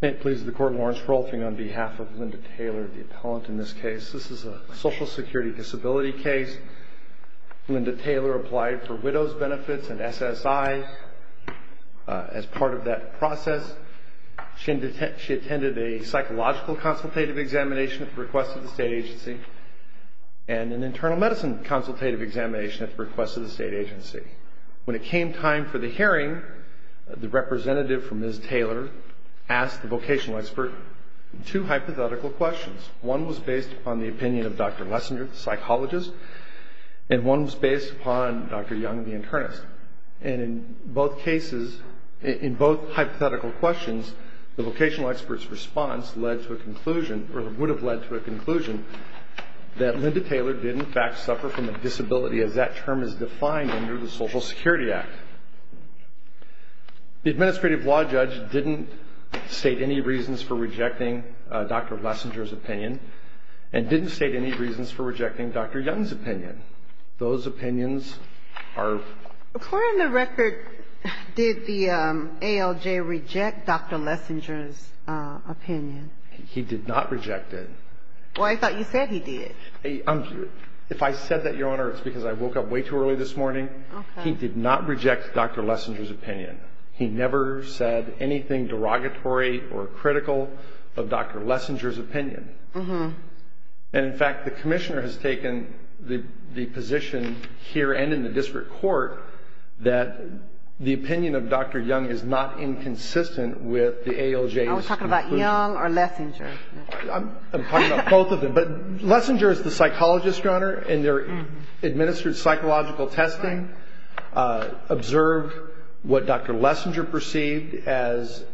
May it please the court, Lawrence Rolfing on behalf of Linda Taylor, the appellant in this case. This is a social security disability case. Linda Taylor applied for widow's benefits and SSI as part of that process. She attended a psychological consultative examination at the request of the state agency and an internal medicine consultative examination at the request of the state agency. When it came time for the hearing, the representative from Ms. Taylor asked the vocational expert two hypothetical questions. One was based upon the opinion of Dr. Lessinger, the psychologist, and one was based upon Dr. Young, the internist. And in both hypothetical questions, the vocational expert's response would have led to a conclusion that Linda Taylor did in fact suffer from a disability as that term is defined under the Social Security Act. The administrative law judge didn't state any reasons for rejecting Dr. Lessinger's opinion and didn't state any reasons for rejecting Dr. Young's opinion. Those opinions are... According to record, did the ALJ reject Dr. Lessinger's opinion? He did not reject it. Well, I thought you said he did. If I said that, Your Honor, it's because I woke up way too early this morning. He did not reject Dr. Lessinger's opinion. He never said anything derogatory or critical of Dr. Lessinger's opinion. And in fact, the commissioner has taken the position here and in the district court that the opinion of Dr. Young is not inconsistent with the ALJ's conclusion. I was talking about Young or Lessinger. I'm talking about both of them. But Lessinger is the psychologist, Your Honor, and they're administered psychological testing, observed what Dr. Lessinger perceived as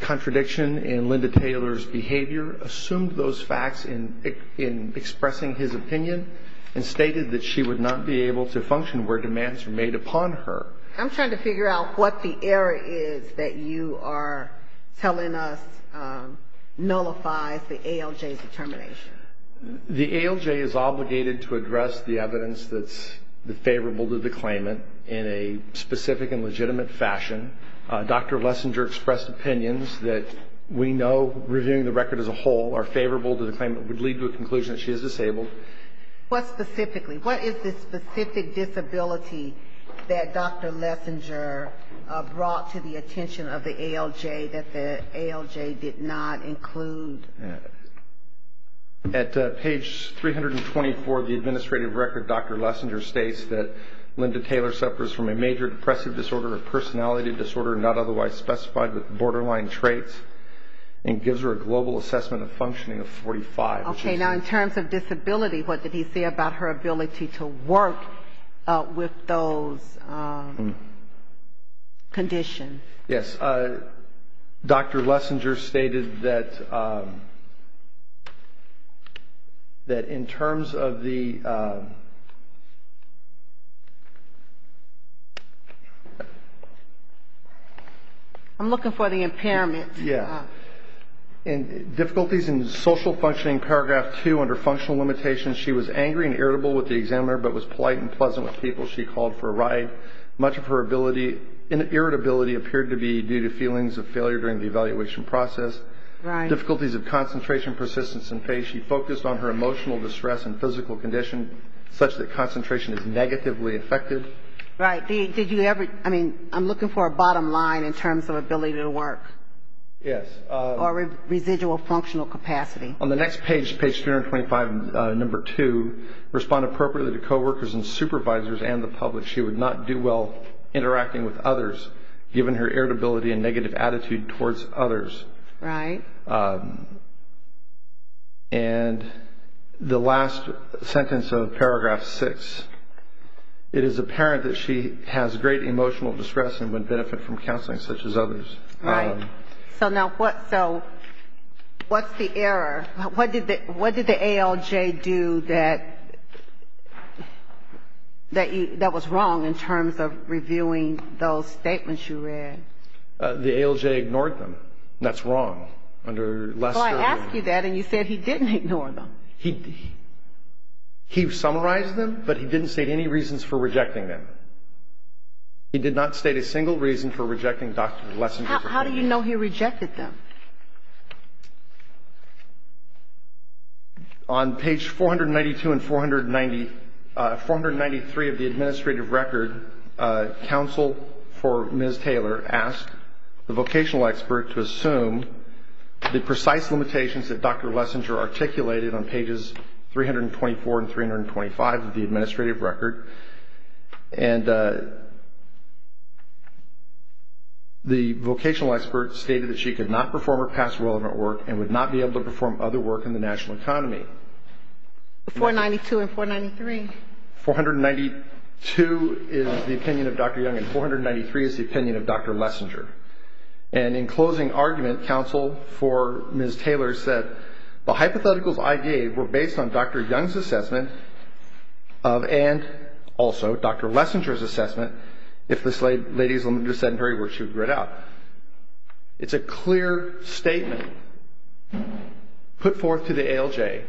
contradiction in Linda Taylor's behavior, assumed those facts in expressing his opinion, and stated that she would not be able to function where demands were made upon her. I'm trying to figure out what the error is that you are telling us nullifies the ALJ's determination. The ALJ is obligated to address the evidence that's favorable to the claimant in a specific and legitimate fashion. Dr. Lessinger expressed opinions that we know, reviewing the record as a whole, are favorable to the claimant, would lead to a conclusion that she is disabled. What specifically? What is the specific disability that Dr. Lessinger brought to the attention of the ALJ that the ALJ did not include? At page 324 of the administrative record, Dr. Lessinger states that Linda Taylor suffers from a major depressive disorder, a personality disorder not otherwise specified with borderline traits, and gives her a global assessment of functioning of 45. Okay, now in terms of disability, what did he say about her ability to work with those conditions? Yes, Dr. Lessinger stated that in terms of the… I'm looking for the impairment. Yeah. And difficulties in social functioning, paragraph 2, under functional limitations, she was angry and irritable with the examiner, but was polite and pleasant with people she called for a ride. Much of her irritability appeared to be due to feelings of failure during the evaluation process. Right. Difficulties of concentration, persistence, and pace. She focused on her emotional distress and physical condition, such that concentration is negatively affected. Right. Did you ever, I mean, I'm looking for a bottom line in terms of ability to work. Yes. Or residual functional capacity. On the next page, page 325, number 2, respond appropriately to coworkers and supervisors and the public. She would not do well interacting with others, given her irritability and negative attitude towards others. Right. And the last sentence of paragraph 6, it is apparent that she has great emotional distress and would benefit from counseling such as others. Right. So now what's the error? What did the ALJ do that was wrong in terms of reviewing those statements you read? The ALJ ignored them, and that's wrong. Well, I asked you that, and you said he didn't ignore them. He summarized them, but he didn't state any reasons for rejecting them. He did not state a single reason for rejecting Dr. Lessinger's opinion. How do you know he rejected them? On page 492 and 490, 493 of the administrative record, counsel for Ms. Taylor asked the vocational expert to assume the precise limitations that Dr. Lessinger articulated on pages 324 and 325 of the administrative record, and the vocational expert stated that she could not perform her past relevant work and would not be able to perform other work in the national economy. 492 and 493. 492 is the opinion of Dr. Young, and 493 is the opinion of Dr. Lessinger. And in closing argument, counsel for Ms. Taylor said, The hypotheticals I gave were based on Dr. Young's assessment and also Dr. Lessinger's assessment if this lady's limited sedentary work she would grit out. It's a clear statement put forth to the ALJ.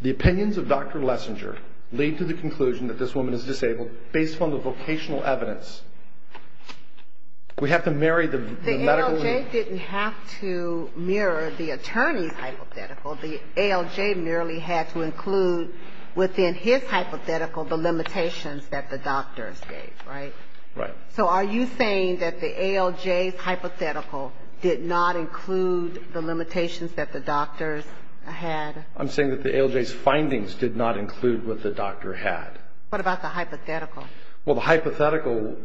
The opinions of Dr. Lessinger lead to the conclusion that this woman is disabled based on the vocational evidence. The ALJ didn't have to mirror the attorney's hypothetical. The ALJ merely had to include within his hypothetical the limitations that the doctors gave, right? Right. So are you saying that the ALJ's hypothetical did not include the limitations that the doctors had? I'm saying that the ALJ's findings did not include what the doctor had. What about the hypothetical? Well, the hypothetical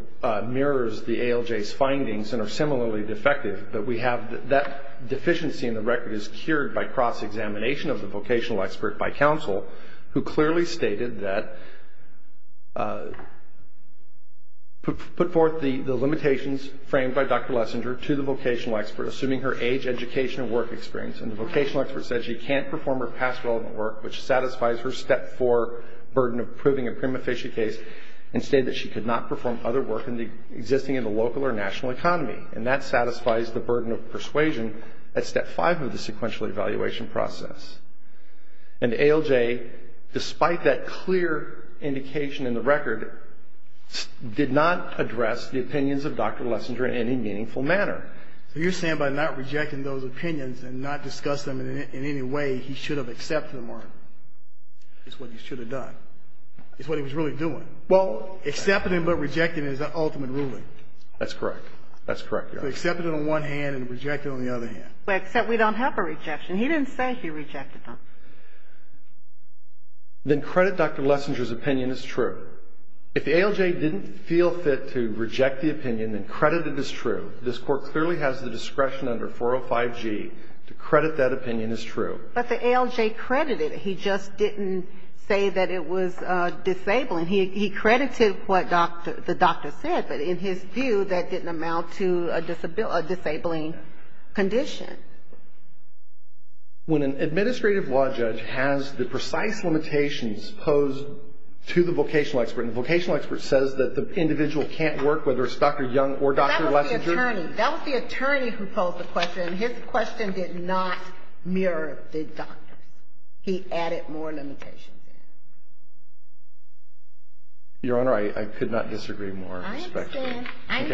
mirrors the ALJ's findings and are similarly defective, but we have that deficiency in the record is cured by cross-examination of the vocational expert by counsel who clearly stated that put forth the limitations framed by Dr. Lessinger to the vocational expert, assuming her age, education, and work experience, and the vocational expert said she can't perform her past relevant work, which satisfies her Step 4 burden of proving a prima facie case, and stated that she could not perform other work existing in the local or national economy, and that satisfies the burden of persuasion at Step 5 of the sequential evaluation process. And the ALJ, despite that clear indication in the record, did not address the opinions of Dr. Lessinger in any meaningful manner. So you're saying by not rejecting those opinions and not discussing them in any way, he should have accepted them or is what he should have done, is what he was really doing. Well, accepting them but rejecting them is the ultimate ruling. That's correct. That's correct, Your Honor. So accepting them on one hand and rejecting them on the other hand. Except we don't have a rejection. He didn't say he rejected them. Then credit Dr. Lessinger's opinion as true. If the ALJ didn't feel fit to reject the opinion and credit it as true, this Court clearly has the discretion under 405G to credit that opinion as true. But the ALJ credited it. He just didn't say that it was disabling. He credited what the doctor said, but in his view, that didn't amount to a disabling condition. When an administrative law judge has the precise limitations posed to the vocational expert, and the vocational expert says that the individual can't work, whether it's Dr. Young or Dr. Lessinger. That was the attorney. That was the attorney who posed the question, and his question did not mirror the doctor's. He added more limitations in. Your Honor, I could not disagree more. I understand. And,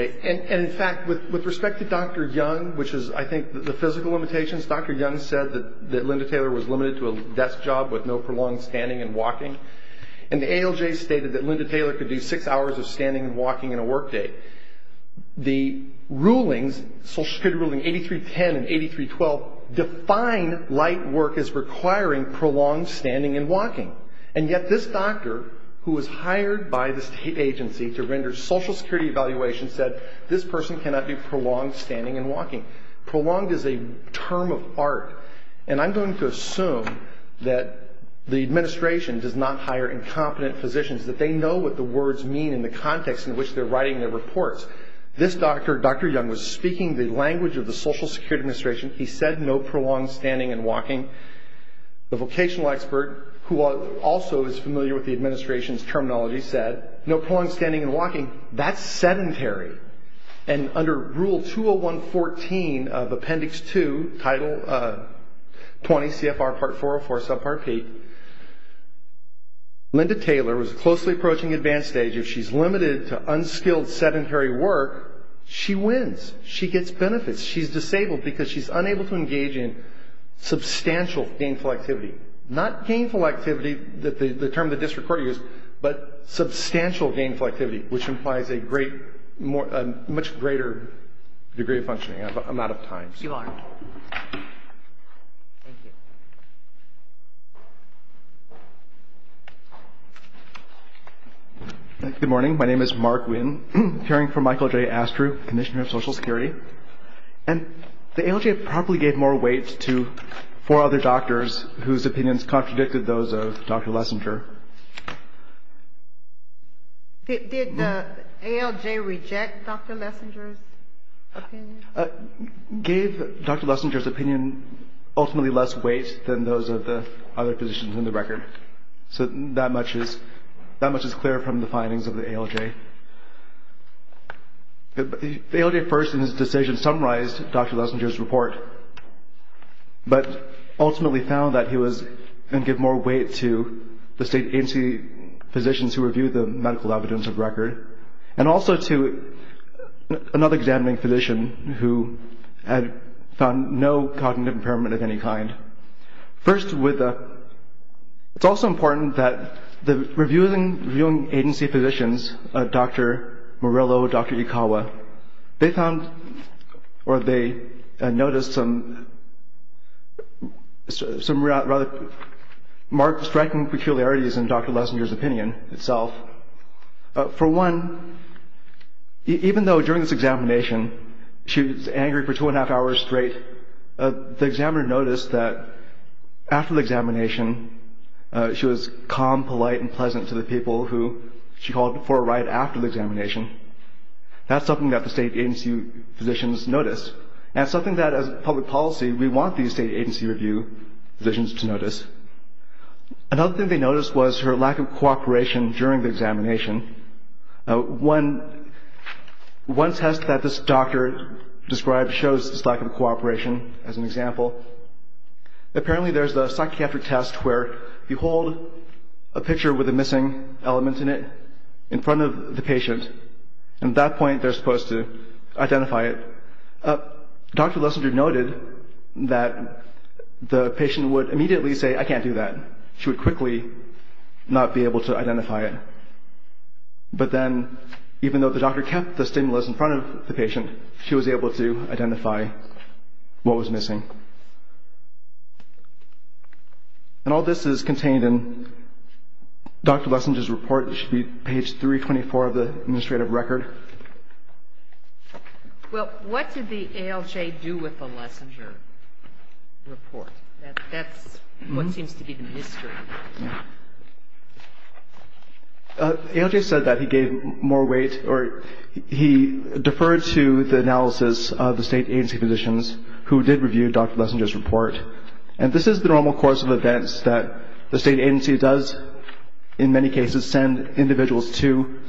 in fact, with respect to Dr. Young, which is, I think, the physical limitations, Dr. Young said that Linda Taylor was limited to a desk job with no prolonged standing and walking. And the ALJ stated that Linda Taylor could do six hours of standing and walking and a work day. The rulings, Social Security ruling 8310 and 8312, define light work as requiring prolonged standing and walking. And yet this doctor, who was hired by the state agency to render Social Security evaluations, said this person cannot do prolonged standing and walking. Prolonged is a term of art. And I'm going to assume that the administration does not hire incompetent physicians, that they know what the words mean in the context in which they're writing their reports. This doctor, Dr. Young, was speaking the language of the Social Security Administration. He said no prolonged standing and walking. The vocational expert, who also is familiar with the administration's terminology, said no prolonged standing and walking. That's sedentary. And under Rule 201-14 of Appendix 2, Title 20, CFR Part 404, Subpart P, Linda Taylor was closely approaching advanced stage. If she's limited to unskilled sedentary work, she wins. She gets benefits. She's disabled because she's unable to engage in substantial gainful activity. Not gainful activity, the term the district court used, but substantial gainful activity, which implies a much greater degree of functioning. I'm out of time. You are. Thank you. Good morning. My name is Mark Winn, appearing for Michael J. Astrew, Commissioner of Social Security. And the ALJ probably gave more weight to four other doctors whose opinions contradicted those of Dr. Lessinger. Did the ALJ reject Dr. Lessinger's opinion? Gave Dr. Lessinger's opinion ultimately less weight than those of the other physicians in the record. So that much is clear from the findings of the ALJ. The ALJ first in its decision summarized Dr. Lessinger's report, but ultimately found that he was going to give more weight to the state agency physicians who reviewed the medical evidence of record, and also to another examining physician who had found no cognitive impairment of any kind. First, it's also important that the reviewing agency physicians, Dr. Morello, Dr. Ikawa, they found or they noticed some rather striking peculiarities in Dr. Lessinger's opinion itself. For one, even though during this examination she was angry for two and a half hours straight, the examiner noticed that after the examination she was calm, polite, and pleasant to the people who she called for a ride after the examination. That's something that the state agency physicians noticed, and something that as public policy we want these state agency review physicians to notice. Another thing they noticed was her lack of cooperation during the examination. One test that this doctor described shows this lack of cooperation as an example. Apparently there's a psychiatric test where you hold a picture with a missing element in it and at that point they're supposed to identify it. Dr. Lessinger noted that the patient would immediately say, I can't do that. She would quickly not be able to identify it. But then, even though the doctor kept the stimulus in front of the patient, she was able to identify what was missing. And all this is contained in Dr. Lessinger's report. It should be page 324 of the administrative record. Well, what did the ALJ do with the Lessinger report? That's what seems to be the mystery. The ALJ said that he gave more weight or he deferred to the analysis of the state agency physicians who did review Dr. Lessinger's report. And this is the normal course of events that the state agency does, in many cases, send individuals to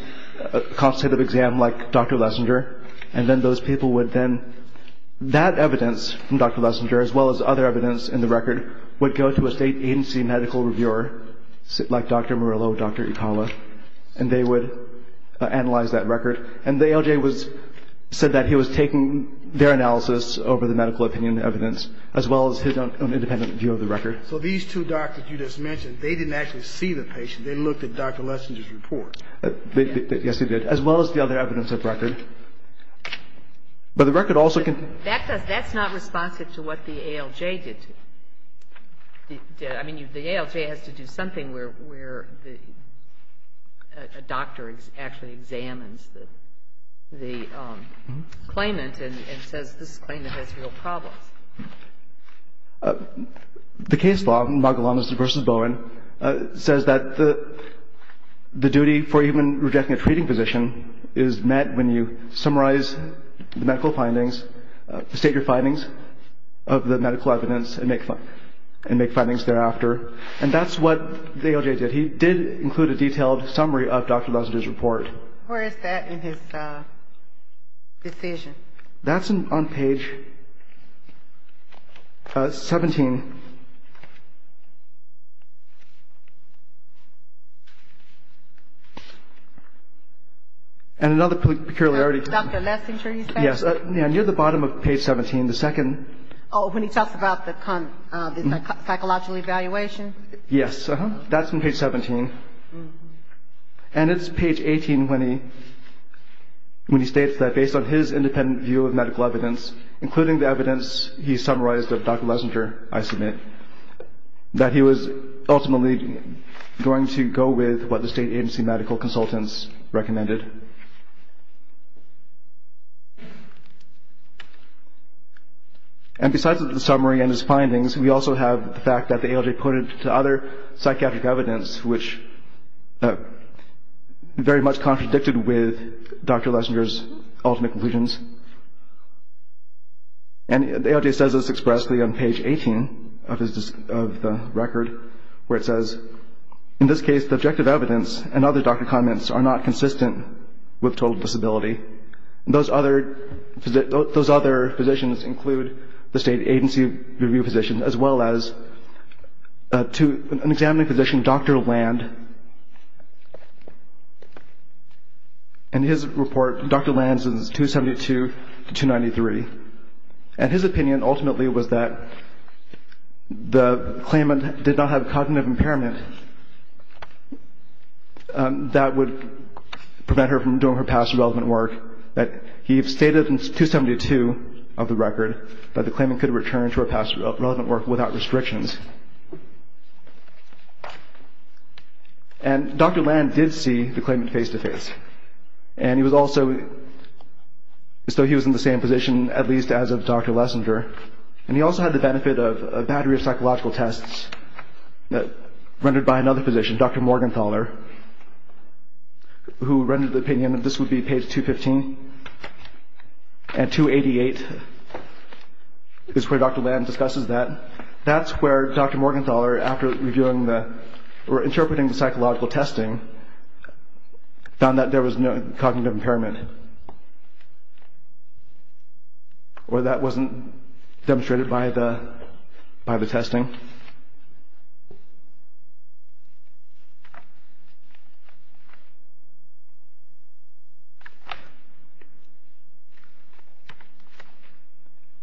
a consultative exam like Dr. Lessinger, and then those people would then, that evidence from Dr. Lessinger as well as other evidence in the record, would go to a state agency medical reviewer like Dr. Murillo or Dr. Ikala, and they would analyze that record. And the ALJ said that he was taking their analysis over the medical opinion evidence as well as his own independent view of the record. So these two doctors you just mentioned, they didn't actually see the patient. They looked at Dr. Lessinger's report. Yes, they did. As well as the other evidence of record. But the record also can... That's not responsive to what the ALJ did. I mean, the ALJ has to do something where a doctor actually examines the claimant and says this claimant has real problems. The case law, Magalanes v. Bowen, says that the duty for even rejecting a treating physician is met when you summarize the medical findings, state your findings of the medical evidence and make findings thereafter. And that's what the ALJ did. He did include a detailed summary of Dr. Lessinger's report. Where is that in his decision? That's on page 17. And another peculiarity... Dr. Lessinger, you said? Yes, near the bottom of page 17, the second... Oh, when he talks about the psychological evaluation? Yes, that's on page 17. And it's page 18 when he states that based on his independent view of medical evidence, including the evidence he summarized of Dr. Lessinger, I submit, that he was ultimately going to go with what the state agency medical consultants recommended. And besides the summary and his findings, we also have the fact that the ALJ put it to other psychiatric evidence which very much contradicted with Dr. Lessinger's ultimate conclusions. And the ALJ says this expressly on page 18 of the record, where it says, in this case, the objective evidence and other doctor comments are not consistent with total disability. Those other physicians include the state agency review physician as well as an examining physician, Dr. Land. And his report, Dr. Land's, is 272 to 293. And his opinion ultimately was that the claimant did not have cognitive impairment that would prevent her from doing her past relevant work. He stated in 272 of the record that the claimant could return to her past relevant work without restrictions. And Dr. Land did see the claimant face-to-face. And he was also, so he was in the same position, at least as of Dr. Lessinger. And he also had the benefit of a battery of psychological tests rendered by another physician, Dr. Morgenthaler, who rendered the opinion that this would be page 215. And 288 is where Dr. Land discusses that. That's where Dr. Morgenthaler, after reviewing the, or interpreting the psychological testing, found that there was no cognitive impairment. Or that wasn't demonstrated by the testing.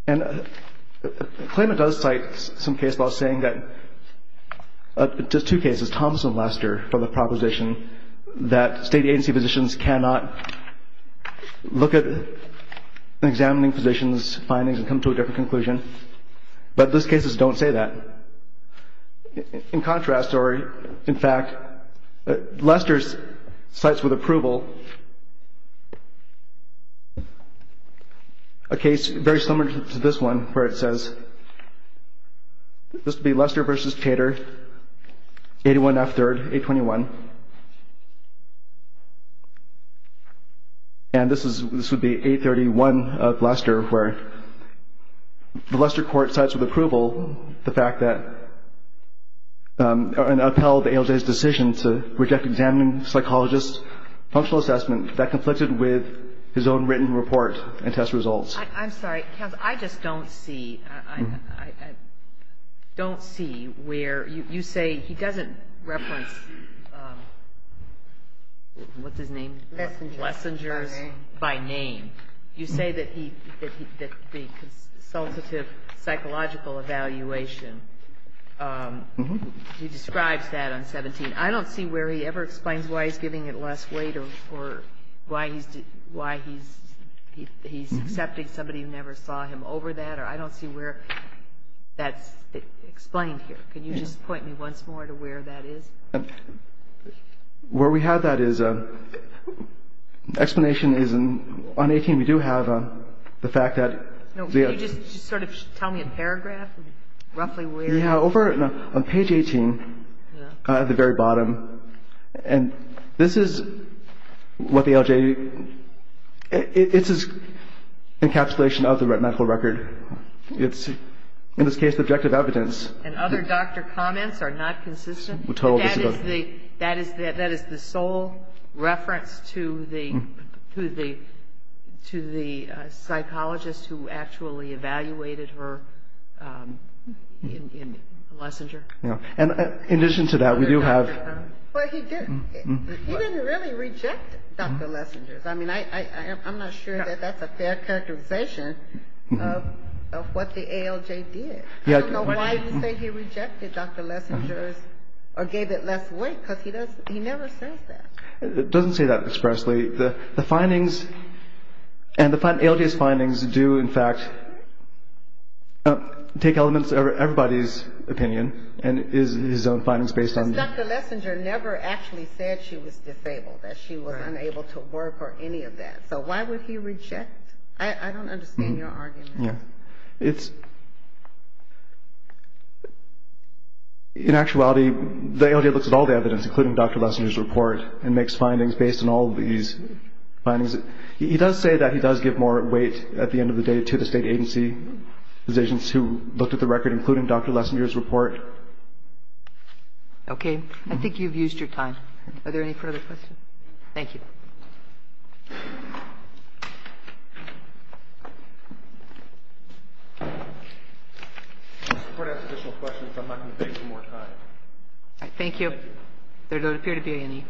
And the claimant does cite some case law saying that, just two cases, Thomas and Lester, for the proposition that state agency physicians cannot look at examining physicians' findings and come to a different conclusion. But those cases don't say that. In contrast, or in fact, Lester cites with approval a case very similar to this one where it says, this would be Lester v. Tater, 81 F. 3rd, 821. And this is, this would be 831 of Lester, where the Lester court cites with approval the fact that, and upheld the ALJ's decision to reject examining psychologists' functional assessment that conflicted with his own written report and test results. I'm sorry. Counsel, I just don't see, I don't see where you say he doesn't reference the, what's his name? Lessengers. Lessengers. By name. By name. You say that the consultative psychological evaluation, he describes that on 17. I don't see where he ever explains why he's giving it less weight or why he's accepting somebody who never saw him over that, or I don't see where that's explained here. Can you just point me once more to where that is? Where we have that is, explanation is on 18, we do have the fact that. Can you just sort of tell me a paragraph, roughly where? Yeah, over on page 18, at the very bottom, and this is what the ALJ, it's a encapsulation of the medical record. It's, in this case, objective evidence. And other doctor comments are not consistent? That is the sole reference to the, to the psychologist who actually evaluated her in Lessenger? Yeah. And in addition to that, we do have. Well, he didn't really reject Dr. Lessengers. I mean, I'm not sure that that's a fair characterization of what the ALJ did. I don't know why you say he rejected Dr. Lessengers, or gave it less weight, because he does, he never says that. It doesn't say that expressly. The findings, and the ALJ's findings do, in fact, take elements of everybody's opinion, and his own findings based on. Because Dr. Lessenger never actually said she was disabled, that she was unable to work or any of that. So why would he reject? I don't understand your argument. Yeah. It's, in actuality, the ALJ looks at all the evidence, including Dr. Lessengers' report, and makes findings based on all these findings. He does say that he does give more weight, at the end of the day, to the state agency positions who looked at the record, including Dr. Lessengers' report. Okay. I think you've used your time. Are there any further questions? Thank you. Mr. Porter has additional questions. I'm not going to beg for more time. Thank you. There don't appear to be any.